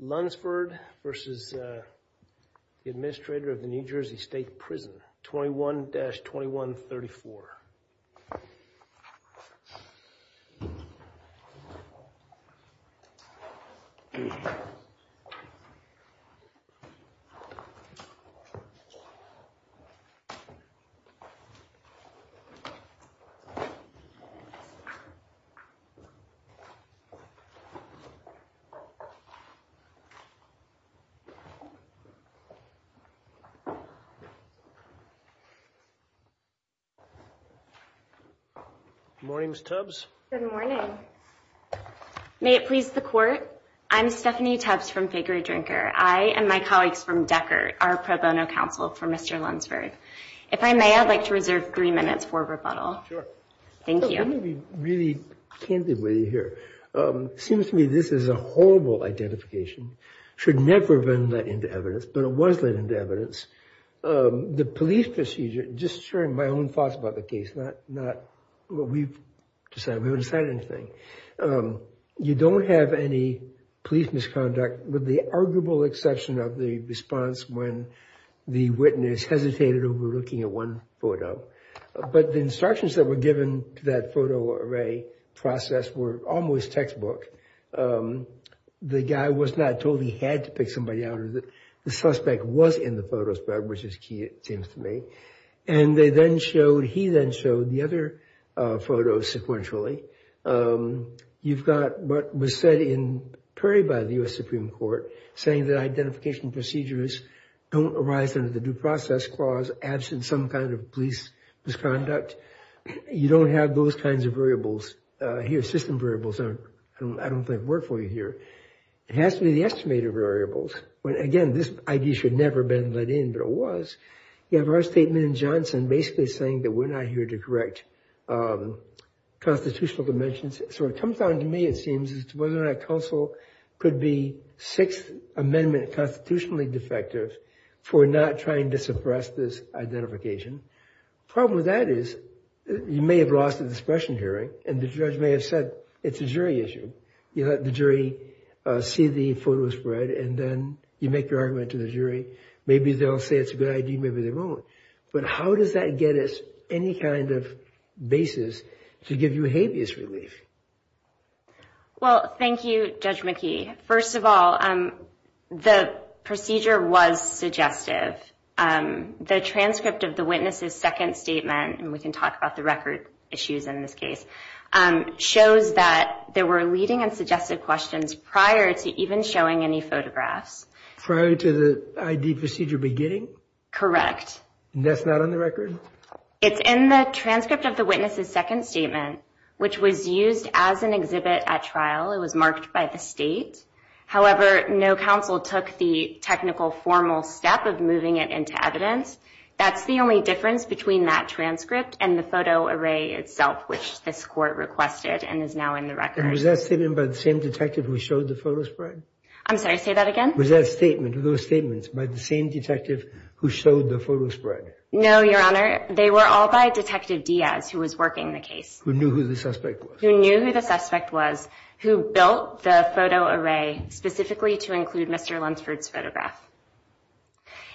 Lunsford v. Administrator New Jersey State Prison 21-2134 Good morning, Ms. Tubbs. Good morning. May it please the court, I'm Stephanie Tubbs from Fakery Drinker. I and my colleagues from Decker are pro bono counsel for Mr. Lunsford. If I may, I'd like to reserve three minutes for rebuttal. Sure. Thank you. Let me be really candid with you here. It seems to me this is a horrible identification. It should never have been let into evidence, but it was let into evidence. The police procedure, just sharing my own thoughts about the case, not what we've decided. We haven't decided anything. You don't have any police misconduct with the arguable exception of the response when the witness hesitated over looking at one photo. But the instructions that were given that photo array process were almost textbook. The guy was not told he had to pick somebody out or that the suspect was in the photo spread, which is key, it seems to me. And they then showed, he then showed the other photos sequentially. You've got what was said in prairie by the U.S. Supreme Court saying that identification procedures don't arise under the due process clause absent some kind of police misconduct. You don't have those kinds of variables here. System variables, I don't think, work for you here. It has to be the estimated variables. Again, this idea should never have been let in, but it was. You have our statement in Johnson basically saying that we're not here to correct constitutional dimensions. So it comes down to me, it seems, as to whether or not counsel could be Sixth Amendment constitutionally defective for not trying to suppress this identification. The problem with that is you may have lost a discretion hearing and the judge may have said it's a jury issue. You let the jury see the photo spread and then you make your argument to the jury. Maybe they'll say it's a good idea, maybe they won't. But how does that get us any kind of basis to give you habeas relief? Well, thank you, Judge McKee. First of all, the procedure was suggestive. The transcript of the witness's second statement, and we can talk about the record issues in this case, shows that there were leading and suggested questions prior to even showing any photographs. Prior to the ID procedure beginning? And that's not on the record? It's in the transcript of the witness's second statement, which was used as an exhibit at trial. It was marked by the state. However, no counsel took the technical formal step of moving it into evidence. That's the only difference between that transcript and the photo array itself, which this court requested and is now in the record. And was that statement by the same detective who showed the photo spread? I'm sorry, say that again? Was that statement, those statements, by the same detective who showed the photo spread? No, Your Honor. They were all by Detective Diaz, who was working the case. Who knew who the suspect was? Who knew who the suspect was, who built the photo array specifically to include Mr. Lunsford's photograph.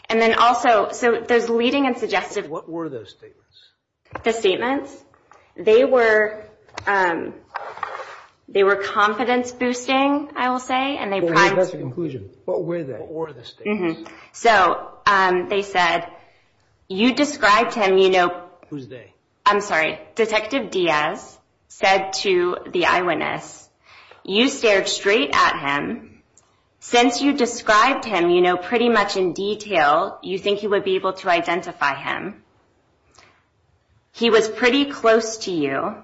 And then also, so those leading and suggestive... What were those statements? The statements? They were confidence-boosting, I will say, and they... That's the conclusion. What were they? What were the statements? So, they said, you described him, you know... Who's they? I'm sorry, Detective Diaz said to the eyewitness, you stared straight at him. Since you described him, you know pretty much in detail, you think he would be able to identify him. He was pretty close to you.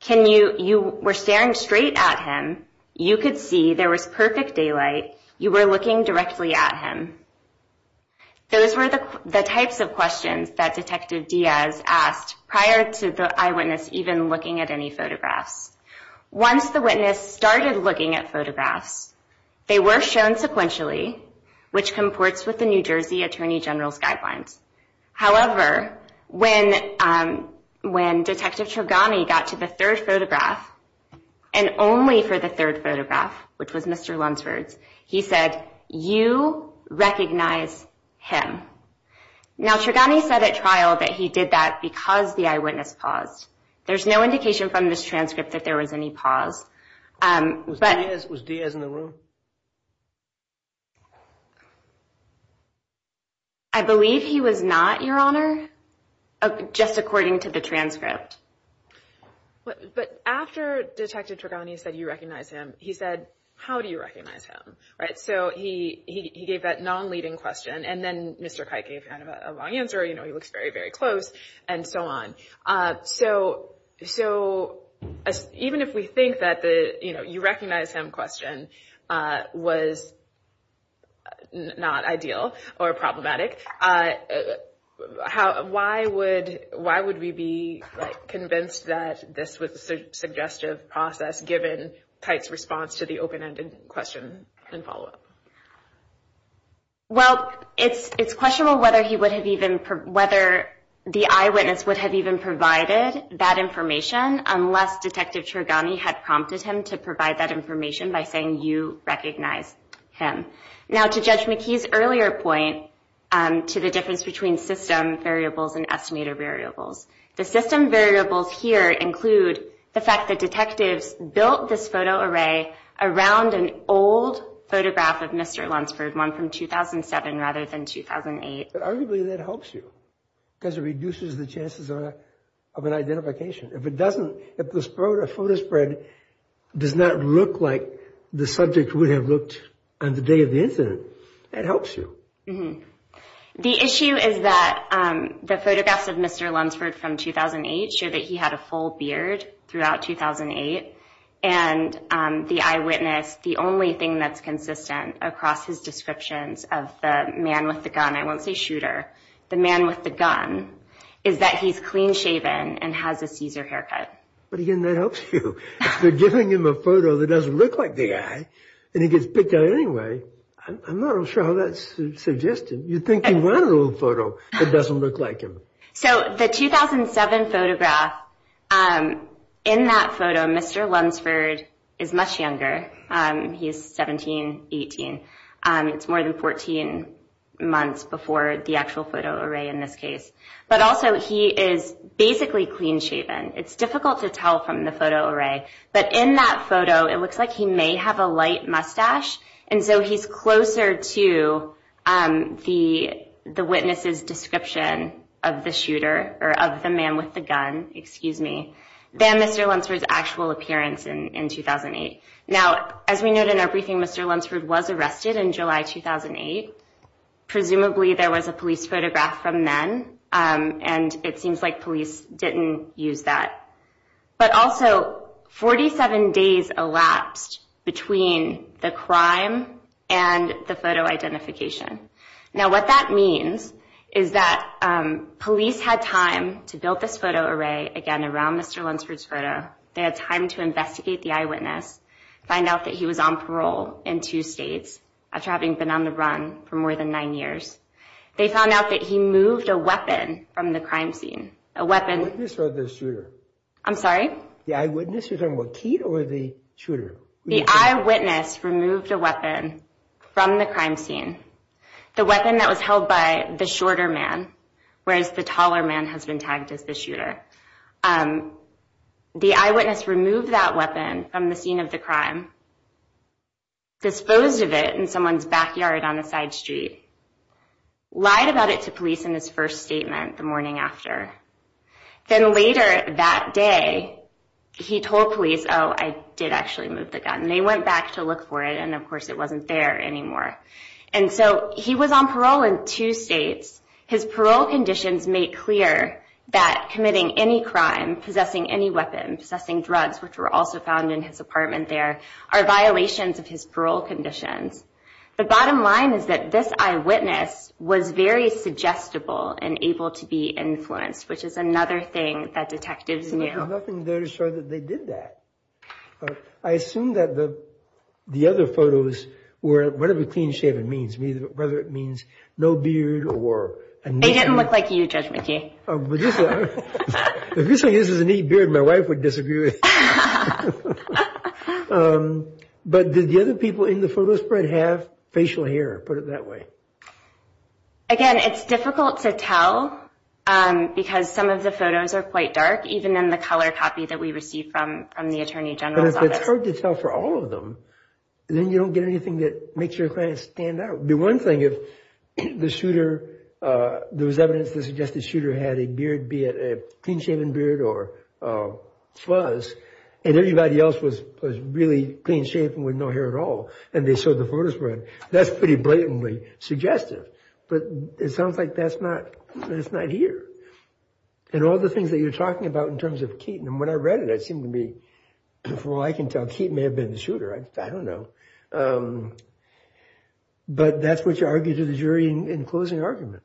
Can you, you were staring straight at him. You could see there was perfect daylight. You were looking directly at him. Those were the types of questions that Detective Diaz asked prior to the eyewitness even looking at any photographs. Once the witness started looking at photographs, they were shown sequentially, which comports with the New Jersey Attorney General's guidelines. However, when Detective Trogani got to the third photograph, and only for the third photograph, which was Mr. Lunsford's, he said, you recognize him. Now, Trogani said at trial that he did that because the eyewitness paused. There's no indication from this transcript that there was any pause. Was Diaz in the room? I believe he was not, Your Honor, just according to the transcript. But after Detective Trogani said you recognize him, he said, how do you recognize him? So he gave that non-leading question, and then Mr. Kight gave kind of a long answer, you know, he looks very, very close, and so on. So even if we think that the you recognize him question was not ideal or problematic, why would we be convinced that this was a suggestive process given Kight's response to the open-ended question and follow-up? Well, it's questionable whether the eyewitness would have even provided that information unless Detective Trogani had prompted him to provide that information by saying you recognize him. Now, to Judge McKee's earlier point to the difference between system variables and estimated variables, the system variables here include the fact that detectives built this photo array around an old photograph of Mr. Lunsford, one from 2007 rather than 2008. But arguably that helps you because it reduces the chances of an identification. If it doesn't, if the The issue is that the photographs of Mr. Lunsford from 2008 show that he had a full beard throughout 2008, and the eyewitness, the only thing that's consistent across his descriptions of the man with the gun, I won't say shooter, the man with the gun, is that he's clean-shaven and has a Caesar haircut. But again, that helps you. They're giving him a photo that doesn't look like the guy, and he gets picked out anyway. I'm not sure how that's suggested. You'd think he'd want a little photo that doesn't look like him. So the 2007 photograph, in that photo, Mr. Lunsford is much younger. He's 17, 18. It's more than 14 months before the actual photo array in this case. But also he is basically clean-shaven. It's difficult to tell from the photo array. But in that photo, it looks like he may have a light mustache. And so he's closer to the witness's description of the shooter, or of the man with the gun, excuse me, than Mr. Lunsford's actual appearance in 2008. Now, as we noted in our briefing, Mr. Lunsford was arrested in July 2008. Presumably there was a police photograph from then, and it seems like police didn't use that. But also, 47 days elapsed between the crime and the photo identification. Now, what that means is that police had time to build this photo array again around Mr. Lunsford's photo. They had time to investigate the eyewitness, find out that he was on parole in two states, after having been on the run for more than nine years. They found out that he moved a weapon from the crime scene. A weapon... The eyewitness or the shooter? The eyewitness. You're talking about Keith or the shooter? The eyewitness removed a weapon from the crime scene. The weapon that was held by the shorter man, whereas the taller man has been tagged as the shooter. The eyewitness removed that weapon from the scene of the crime. Disposed of it in someone's backyard on a side street. Lied about it to police in his first statement the morning after. Then later that day, he told police, oh, I did actually move the gun. They went back to look for it, and of course it wasn't there anymore. And so, he was on parole in two states. His parole conditions made clear that committing any crime, possessing any weapon, possessing drugs, which were also found in his apartment there, are violations of his parole conditions. The bottom line is that this eyewitness was very suggestible and able to be influenced, which is another thing that detectives knew. But there's nothing there to show that they did that. I assume that the other photos were, whatever clean shaven means, whether it means no beard or... They didn't look like you, Judge McKee. If you say this is a neat beard, my wife would disagree with you. But did the other people in the photo spread have facial hair, put it that way? Again, it's difficult to tell because some of the photos are quite dark, even in the color copy that we received from the Attorney General's office. But if it's hard to tell for all of them, then you don't get anything that makes your client stand out. The one thing, if the shooter, there was evidence that suggested the shooter had a beard, be it a clean shaven beard or fuzz, and everybody else was really clean shaven with no hair at all, and they showed the photos spread, that's pretty blatantly suggestive. But it sounds like that's not here. And all the things that you're talking about in terms of Keaton, and when I read it, it seemed to me, from what I can tell, Keaton may have been the shooter, I don't know. But that's what you argue to the jury in closing argument.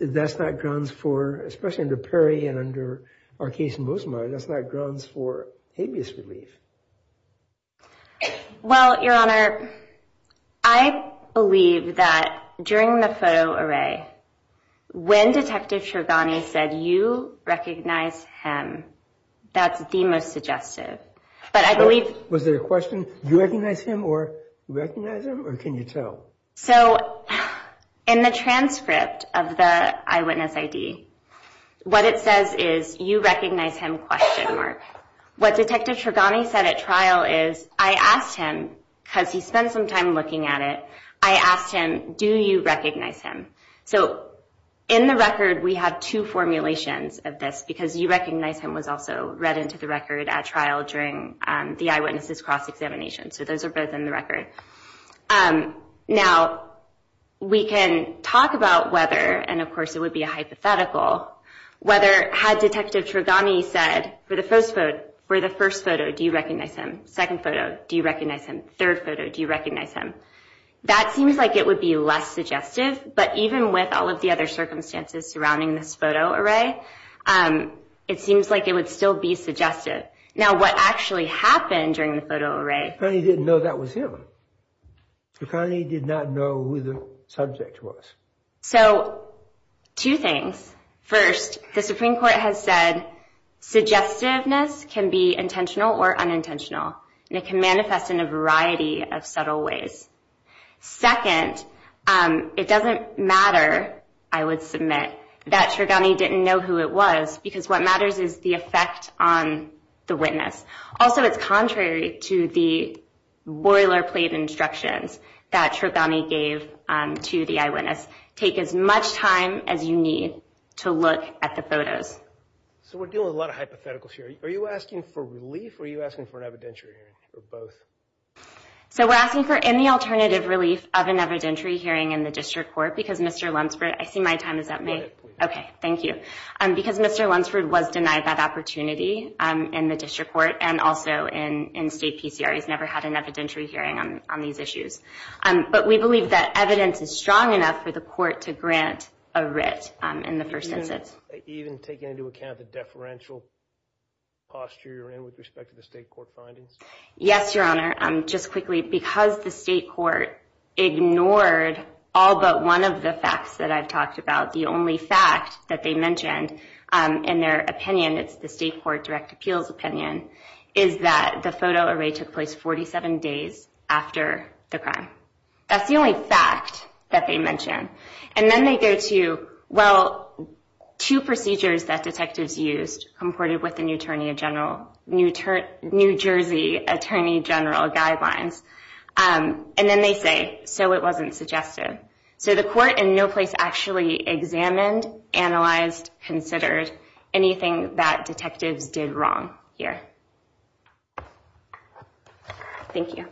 That's not grounds for, especially under Perry and under our case in Bozema, that's not grounds for habeas relief. Well, Your Honor, I believe that during the photo array, when Detective Shergani said, you recognize him, that's the most suggestive. But I believe... Was there a question, do you recognize him, or do you recognize him, or can you tell? So, in the transcript of the eyewitness ID, what it says is, you recognize him, question mark. What Detective Shergani said at trial is, I asked him, because he spent some time looking at it, I asked him, do you recognize him? So, in the record, we have two formulations of this, because you recognize him was also read into the record at trial during the eyewitnesses cross-examination. So those are both in the record. Now, we can talk about whether, and of course it would be a hypothetical, whether had Detective Shergani said, for the first photo, do you recognize him? Second photo, do you recognize him? Third photo, do you recognize him? That seems like it would be less suggestive, but even with all of the other circumstances surrounding this photo array, it seems like it would still be suggestive. Now, what actually happened during the photo array... Shergani didn't know that was him. Shergani did not know who the subject was. So, two things. First, the Supreme Court has said, suggestiveness can be intentional or unintentional. And it can manifest in a variety of subtle ways. Second, it doesn't matter, I would submit, that Shergani didn't know who it was, because what matters is the effect on the witness. Also, it's contrary to the boilerplate instructions that Shergani gave to the eyewitness. Take as much time as you need to look at the photos. So, we're dealing with a lot of hypotheticals here. Are you asking for relief, or are you asking for an evidentiary hearing, or both? So, we're asking for any alternative relief of an evidentiary hearing in the District Court, because Mr. Lunsford... I see my time is up. Okay, thank you. Because Mr. Lunsford was denied that opportunity in the District Court, and also in state PCR. He's never had an evidentiary hearing on these issues. But we believe that evidence is strong enough for the court to grant a writ in the first instance. Even taking into account the deferential posture you're in with respect to the state court findings? Yes, Your Honor. Just quickly, because the state court ignored all but one of the facts that I've talked about, the only fact that they mentioned in their opinion, it's the state court direct appeals opinion, is that the photo array took place 47 days after the crime. That's the only fact that they mentioned. And then they go to, well, two procedures that detectives used, comported with the New Jersey Attorney General guidelines. And then they say, so it wasn't suggested. So the court in no place actually examined, analyzed, considered anything that detectives did wrong here. Thank you.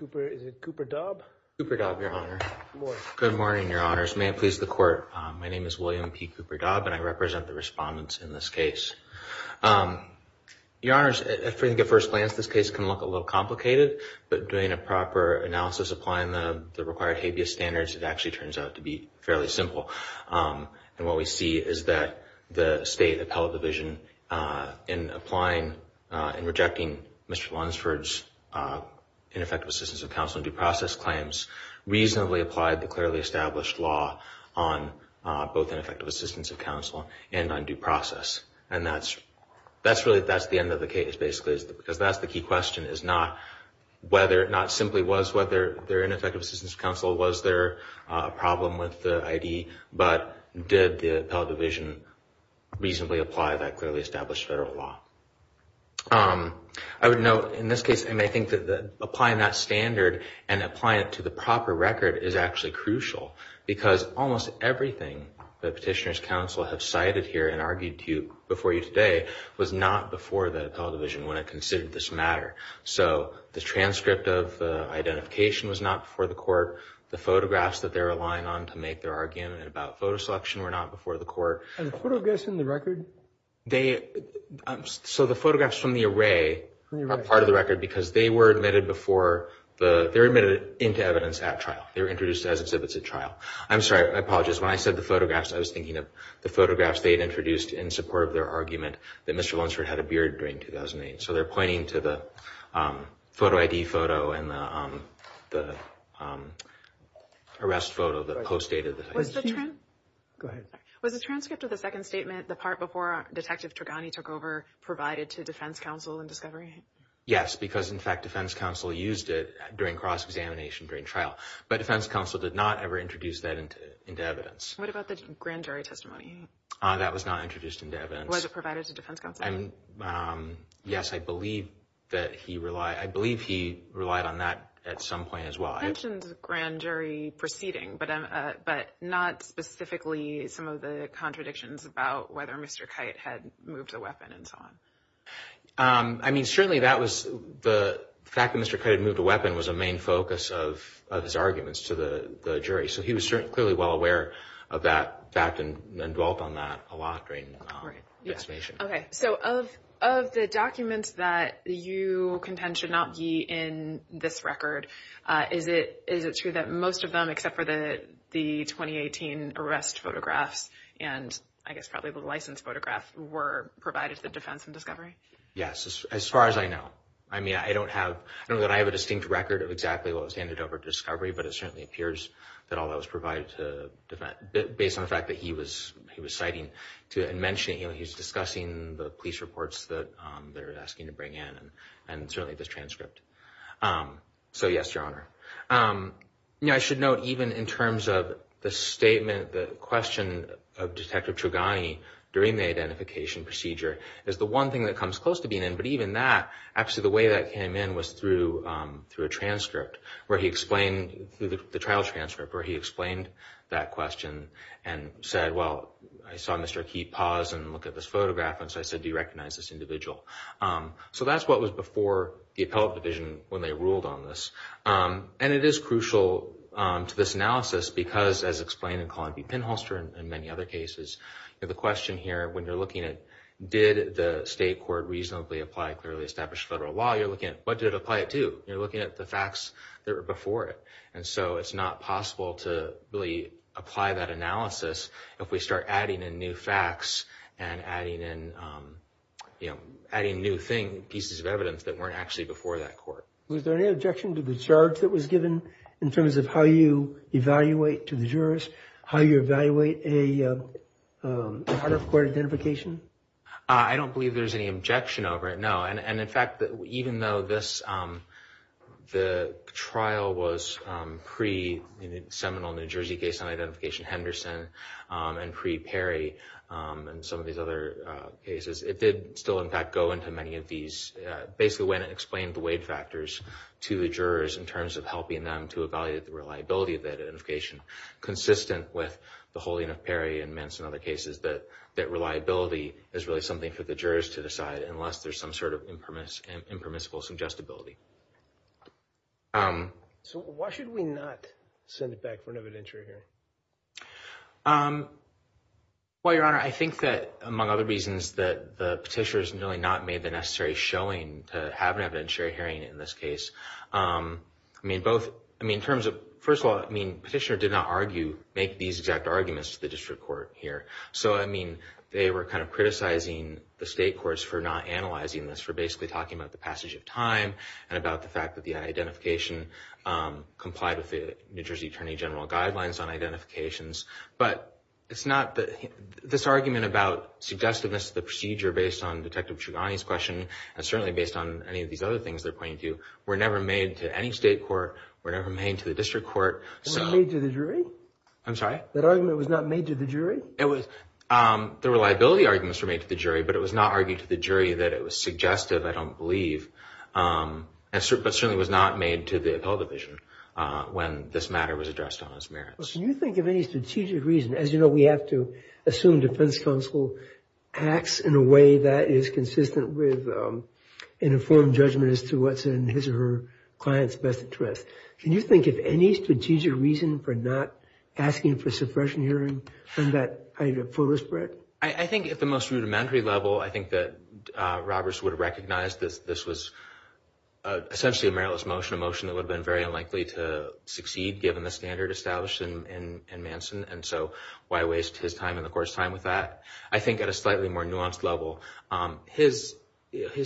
Is it Cooper Daub? Cooper Daub, Your Honor. Good morning. Good morning, Your Honors. May it please the Court. My name is William P. Cooper Daub, and I represent the respondents in this case. Your Honors, I think at first glance, this case can look a little complicated. But doing a proper analysis, applying the required habeas standards, it actually turns out to be fairly simple. And what we see is that the State Appellate Division, in applying and rejecting Mr. Lunsford's ineffective assistance of counsel and due process claims, reasonably applied the clearly established law on both ineffective assistance of counsel and on due process. And that's really, that's the end of the case, basically. Because that's the key question, is not whether, not simply was, was there an ineffective assistance of counsel, was there a problem with the ID, but did the Appellate Division reasonably apply that clearly established federal law? I would note, in this case, I think that applying that standard and applying it to the proper record is actually crucial. Because almost everything that Petitioners' Counsel have cited here and argued to you, before you today, was not before the Appellate Division when it considered this matter. So the transcript of the identification was not before the court. The photographs that they're relying on to make their argument about photo selection were not before the court. And the photographs in the record? They, so the photographs from the array are part of the record because they were admitted before the, they were admitted into evidence at trial. They were introduced as exhibits at trial. I'm sorry, I apologize. When I said the photographs, I was thinking of the photographs they had introduced in support of their argument that Mr. Lunsford had a beard during 2008. So they're pointing to the photo ID photo and the arrest photo that postdated the. Was the transcript of the second statement, the part before Detective Tregani took over, provided to Defense Counsel in discovery? Yes, because, in fact, Defense Counsel used it during cross-examination during trial. But Defense Counsel did not ever introduce that into evidence. What about the grand jury testimony? That was not introduced into evidence. Was it provided to Defense Counsel? Yes, I believe that he relied, I believe he relied on that at some point as well. You mentioned grand jury proceeding, but not specifically some of the contradictions about whether Mr. Kite had moved a weapon and so on. I mean, certainly that was, the fact that Mr. Kite had moved a weapon was a main focus of his arguments to the jury. So he was clearly well aware of that fact and dwelt on that a lot during this mission. Okay, so of the documents that you contend should not be in this record, is it true that most of them except for the 2018 arrest photographs and I guess probably the license photograph were provided to the defense in discovery? Yes, as far as I know. I mean, I don't have, I don't know that I have a distinct record of exactly what was handed over to discovery, but it certainly appears that all that was provided to the defense, based on the fact that he was citing and mentioning, he was discussing the police reports that they were asking to bring in and certainly this transcript. So yes, Your Honor. I should note even in terms of the statement, the question of Detective Chogany during the identification procedure is the one thing that comes close to being in, but even that, actually the way that came in was through a transcript where he explained, the trial transcript where he explained that question and said, well, I saw Mr. Akeet pause and look at this photograph and so I said, do you recognize this individual? So that's what was before the appellate division when they ruled on this. And it is crucial to this analysis because as explained in Colin P. Pinholster and many other cases, the question here when you're looking at did the state court reasonably apply clearly established federal law, you're looking at what did it apply it to? You're looking at the facts that were before it. And so it's not possible to really apply that analysis if we start adding in new facts and adding in, adding new things, pieces of evidence that weren't actually before that court. Was there any objection to the charge that was given in terms of how you evaluate to the jurist, how you evaluate a court identification? I don't believe there's any objection over it, no. And in fact, even though this, the trial was pre-Seminole, New Jersey case on identification, Henderson and pre-Perry and some of these other cases, it did still in fact go into many of these, basically went and explained the weight factors to the jurors in terms of helping them to evaluate the reliability of that identification consistent with the holding of Perry and Mintz and other cases, that reliability is really something for the jurors to decide unless there's some sort of impermissible suggestibility. So why should we not send it back for an evidentiary hearing? Well, Your Honor, I think that, among other reasons, that the petitioners really not made the necessary showing to have an evidentiary hearing in this case. I mean, both, I mean, in terms of, first of all, I mean, petitioner did not argue, make these exact arguments to the district court here. So, I mean, they were kind of criticizing the state courts for not analyzing this, for basically talking about the passage of time and about the fact that the identification complied with the New Jersey Attorney General guidelines on identifications. But it's not, this argument about suggestiveness of the procedure based on Detective Trugani's question and certainly based on any of these other things they're pointing to were never made to any state court, were never made to the district court. It was made to the jury? I'm sorry? That argument was not made to the jury? It was, the reliability arguments were made to the jury, but it was not argued to the jury that it was suggestive, I don't believe, but certainly was not made to the appellate division when this matter was addressed on its merits. Well, can you think of any strategic reason, as you know, we have to assume defense counsel acts in a way that is consistent with an informed judgment as to what's in his or her client's best interest. Can you think of any strategic reason for not asking for suppression hearing from that kind of fuller spread? I think at the most rudimentary level, I think that Roberts would have recognized this was essentially a meriless motion, a motion that would have been very unlikely to succeed given the standard established in Manson, and so why waste his time and the court's time with that? I think at a slightly more nuanced level, his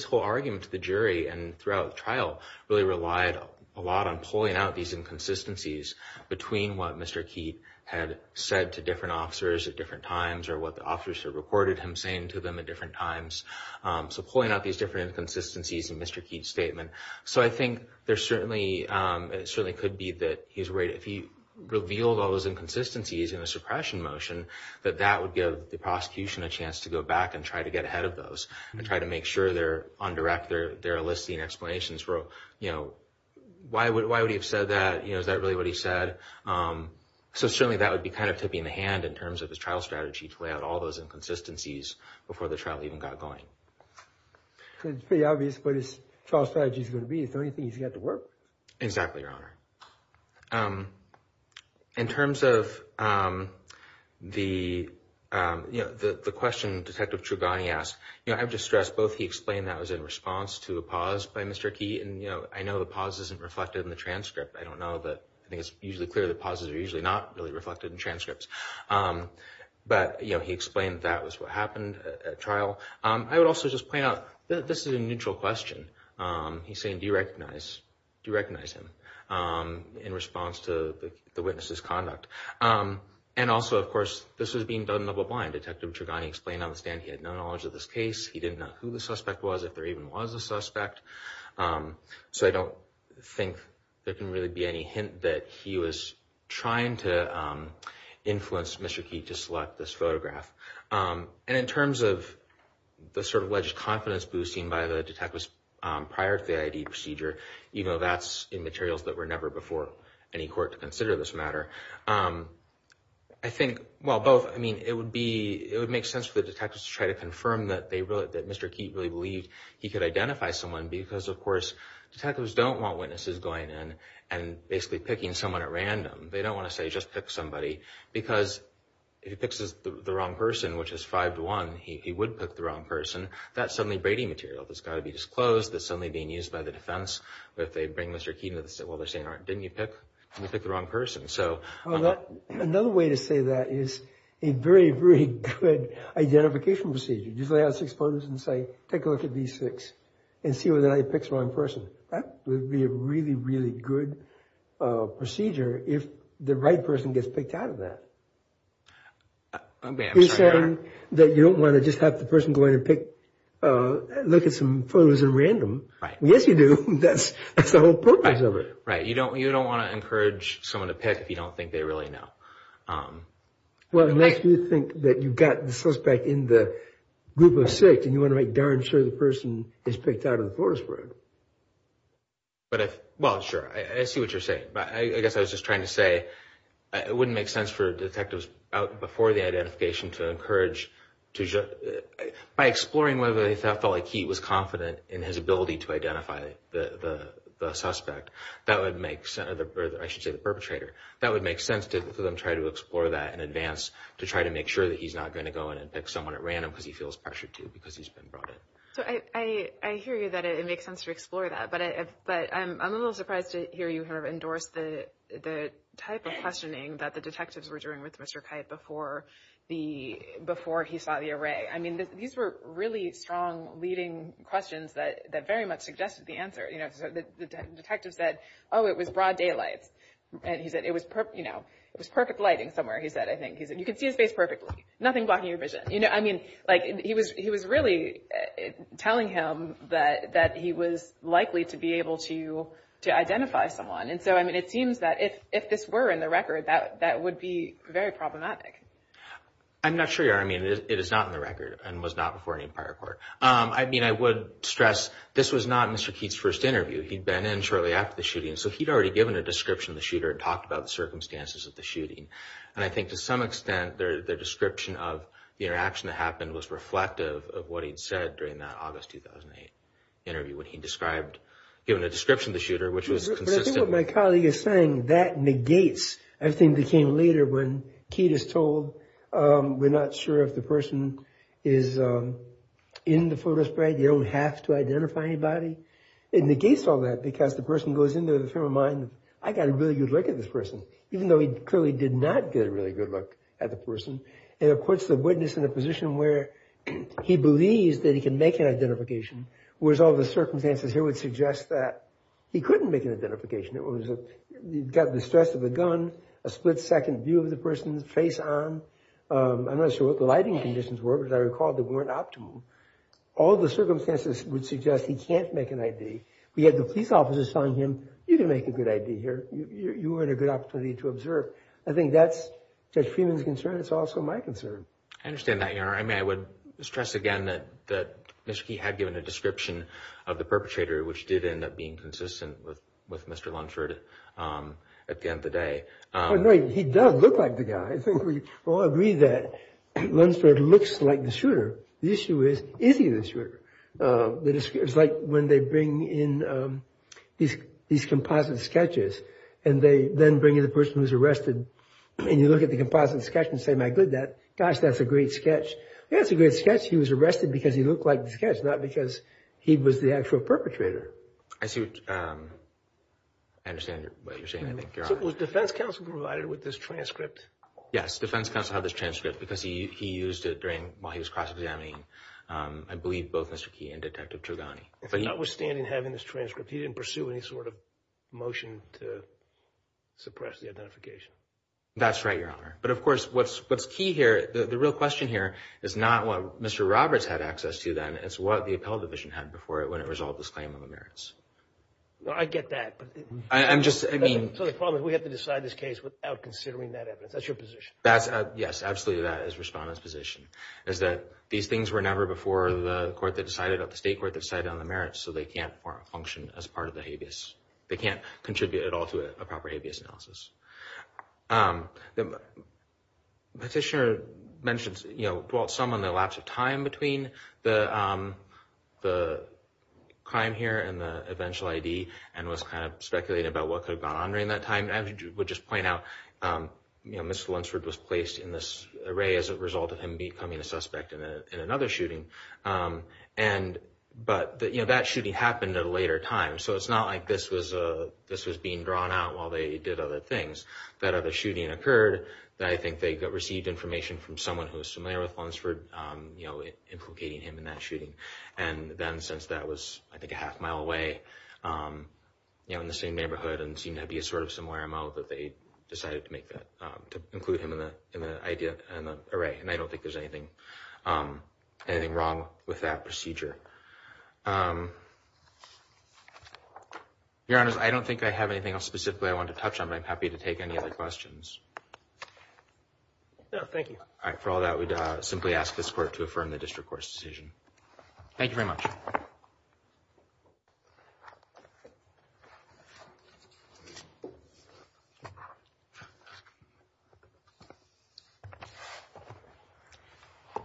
whole argument to the jury and throughout the trial really relied a lot on pulling out these inconsistencies between what Mr. Keat had said to different officers at different times or what the officers had reported him saying to them at different times, so pulling out these different inconsistencies in Mr. Keat's statement. So I think there certainly could be that if he revealed all those inconsistencies in the suppression motion, that that would give the prosecution a chance to go back and try to get ahead of those and try to make sure they're on direct, they're eliciting explanations for, you know, why would he have said that? You know, is that really what he said? So certainly that would be kind of tipping the hand in terms of his trial strategy to lay out all those inconsistencies before the trial even got going. So it's pretty obvious what his trial strategy is going to be. Is there anything he's got to work with? Exactly, Your Honor. In terms of the question Detective Trugani asked, you know, I have to stress both he explained that was in response to a pause by Mr. Keat, and, you know, I know the pause isn't reflected in the transcript. I don't know, but I think it's usually clear that pauses are usually not really reflected in transcripts. But, you know, he explained that was what happened at trial. I would also just point out that this is a neutral question. He's saying do you recognize him in response to the witness's conduct? And also, of course, this was being done double blind. Detective Trugani explained on the stand he had no knowledge of this case. He didn't know who the suspect was, if there even was a suspect. So I don't think there can really be any hint that he was trying to influence Mr. Keat to select this photograph. And in terms of the sort of alleged confidence boosting by the detectives prior to the ID procedure, you know, that's in materials that were never before any court to consider this matter. I think, well, both. I mean, it would make sense for the detectives to try to confirm that Mr. Keat really believed he could identify someone, because, of course, detectives don't want witnesses going in and basically picking someone at random. They don't want to say just pick somebody, because if he picks the wrong person, which is five to one, he would pick the wrong person. That's suddenly Brady material. That's got to be disclosed. That's suddenly being used by the defense. If they bring Mr. Keat, well, they're saying, didn't you pick? You picked the wrong person. So another way to say that is a very, very good identification procedure. Just lay out six photos and say, take a look at these six and see whether he picks the wrong person. That would be a really, really good procedure if the right person gets picked out of that. You're saying that you don't want to just have the person go in and pick, look at some photos at random. Yes, you do. That's the whole purpose of it. Right. You don't want to encourage someone to pick if you don't think they really know. Well, unless you think that you've got the suspect in the group of six and you want to make darn sure the person is picked out of the forest road. But if. Well, sure. I see what you're saying. I guess I was just trying to say it wouldn't make sense for detectives out before the identification to encourage. By exploring whether they felt like he was confident in his ability to identify the suspect, that would make sense. I should say the perpetrator. That would make sense to them. In advance to try to make sure that he's not going to go in and pick someone at random because he feels pressured to because he's been brought in. So I hear you that it makes sense to explore that. But but I'm a little surprised to hear you have endorsed the type of questioning that the detectives were doing with Mr. Kite before the before he saw the array. I mean, these were really strong leading questions that that very much suggested the answer. You know, the detective said, oh, it was broad daylights. And he said it was, you know, it was perfect lighting somewhere. He said, I think he said, you can see his face perfectly. Nothing blocking your vision. You know, I mean, like he was he was really telling him that that he was likely to be able to to identify someone. And so, I mean, it seems that if if this were in the record, that that would be very problematic. I'm not sure. I mean, it is not in the record and was not before any prior court. I mean, I would stress this was not Mr. Kitt's first interview. He'd been in shortly after the shooting. So he'd already given a description of the shooter and talked about the circumstances of the shooting. And I think to some extent, their description of the interaction that happened was reflective of what he'd said during that August 2008 interview. What he described given a description of the shooter, which was consistent with my colleague is saying that negates everything that came later. When Kitt is told, we're not sure if the person is in the photo spread. You don't have to identify anybody. It negates all that because the person goes into the frame of mind. I got a really good look at this person, even though he clearly did not get a really good look at the person. And of course, the witness in a position where he believes that he can make an identification was all the circumstances here would suggest that he couldn't make an identification. It was got the stress of a gun, a split second view of the person's face on. I'm not sure what the lighting conditions were, but I recall they weren't optimal. All the circumstances would suggest he can't make an ID. We had the police officers telling him, you can make a good ID here. You were in a good opportunity to observe. I think that's Judge Freeman's concern. It's also my concern. I understand that, Your Honor. I mean, I would stress again that he had given a description of the perpetrator, which did end up being consistent with Mr. Lunsford at the end of the day. He does look like the guy. I think we all agree that Lunsford looks like the shooter. The issue is, is he the shooter? It's like when they bring in these composite sketches, and they then bring in the person who's arrested, and you look at the composite sketch and say, my goodness, gosh, that's a great sketch. Yeah, it's a great sketch. He was arrested because he looked like the sketch, not because he was the actual perpetrator. I understand what you're saying, I think, Your Honor. So was defense counsel provided with this transcript? Yes, defense counsel had this transcript because he used it while he was cross-examining, I believe, both Mr. Key and Detective Trugani. But notwithstanding having this transcript, he didn't pursue any sort of motion to suppress the identification? That's right, Your Honor. But, of course, what's key here, the real question here is not what Mr. Roberts had access to then. It's what the Appellate Division had before it when it resolved this claim on the merits. I get that. So the problem is we have to decide this case without considering that evidence. That's your position? Yes, absolutely. That is Respondent's position, is that these things were never before the state court that decided on the merits, so they can't function as part of the habeas. They can't contribute at all to a proper habeas analysis. The petitioner mentions, you know, dwelt some on the lapse of time between the crime here and the eventual I.D. and was kind of speculating about what could have gone on during that time. I would just point out, you know, Mr. Lunsford was placed in this array as a result of him becoming a suspect in another shooting. But, you know, that shooting happened at a later time, so it's not like this was being drawn out while they did other things. That other shooting occurred. I think they received information from someone who was familiar with Lunsford, you know, implicating him in that shooting. And then since that was, I think, a half mile away, you know, in the same neighborhood, and seemed to be a sort of similar MO, that they decided to make that, to include him in the I.D. and the array. And I don't think there's anything wrong with that procedure. Your Honors, I don't think I have anything else specifically I want to touch on, but I'm happy to take any other questions. No, thank you. All right. For all that, we'd simply ask this Court to affirm the district court's decision. Thank you very much.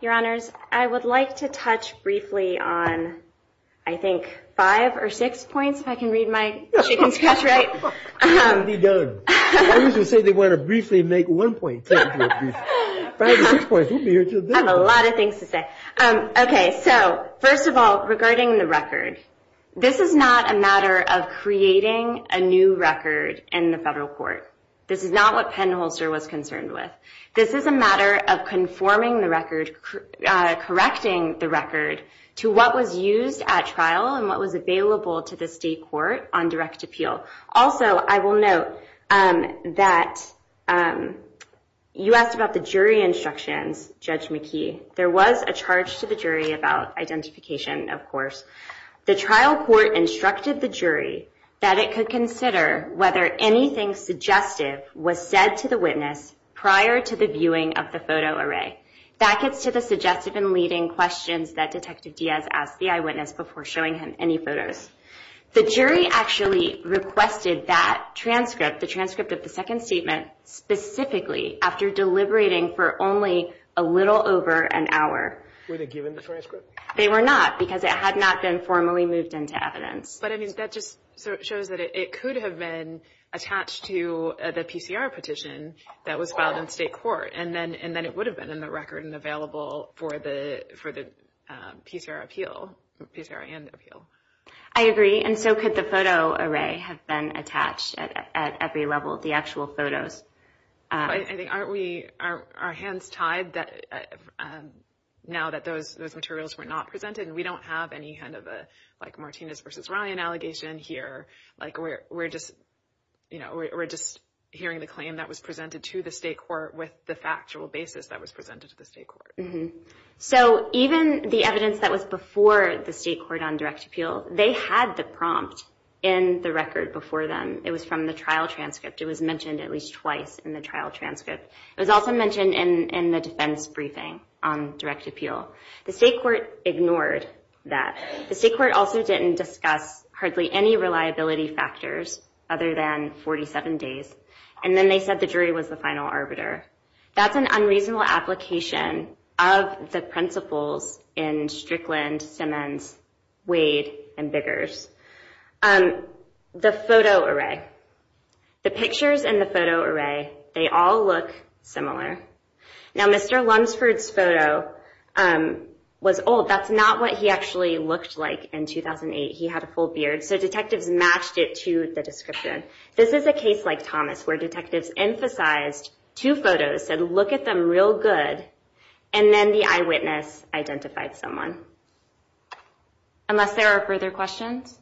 Your Honors, I would like to touch briefly on, I think, five or six points, if I can read my chicken scratch right. Why did you say they want to briefly make one point? Five or six points, we'll be here until then. I have a lot of things to say. Okay. So, first of all, regarding the record, this is not a matter of creating a new record in the federal court. This is not what Penn Holster was concerned with. This is a matter of conforming the record, correcting the record, to what was used at trial and what was available to the state court on direct appeal. Also, I will note that you asked about the jury instructions, Judge McKee. There was a charge to the jury about identification, of course. The trial court instructed the jury that it could consider whether anything suggestive was said to the witness prior to the viewing of the photo array. That gets to the suggestive and leading questions that Detective Diaz asked the eyewitness before showing him any photos. The jury actually requested that transcript, the transcript of the second statement, specifically after deliberating for only a little over an hour. Were they given the transcript? They were not because it had not been formally moved into evidence. But, I mean, that just shows that it could have been attached to the PCR petition that was filed in state court, and then it would have been in the record and available for the PCR appeal, PCR and appeal. I agree. And so could the photo array have been attached at every level of the actual photos? I think, aren't we, are our hands tied now that those materials were not presented? We don't have any kind of a, like, Martinez v. Ryan allegation here. Like, we're just, you know, we're just hearing the claim that was presented to the state court with the factual basis that was presented to the state court. So even the evidence that was before the state court on direct appeal, they had the prompt in the record before them. It was from the trial transcript. It was mentioned at least twice in the trial transcript. It was also mentioned in the defense briefing on direct appeal. The state court ignored that. The state court also didn't discuss hardly any reliability factors other than 47 days. And then they said the jury was the final arbiter. That's an unreasonable application of the principles in Strickland, Simmons, Wade, and Biggers. The photo array. The pictures in the photo array, they all look similar. Now, Mr. Lunsford's photo was old. That's not what he actually looked like in 2008. He had a full beard. So detectives matched it to the description. This is a case like Thomas where detectives emphasized two photos, said, look at them real good, and then the eyewitness identified someone. Unless there are further questions?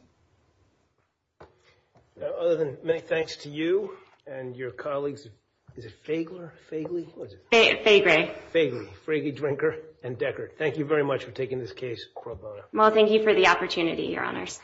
Other than many thanks to you and your colleagues, is it Fagler, Fagley? Fagrey. Fagley, Fragy Drinker, and Deckard. Thank you very much for taking this case, Cora Bona. Well, thank you for the opportunity, Your Honors.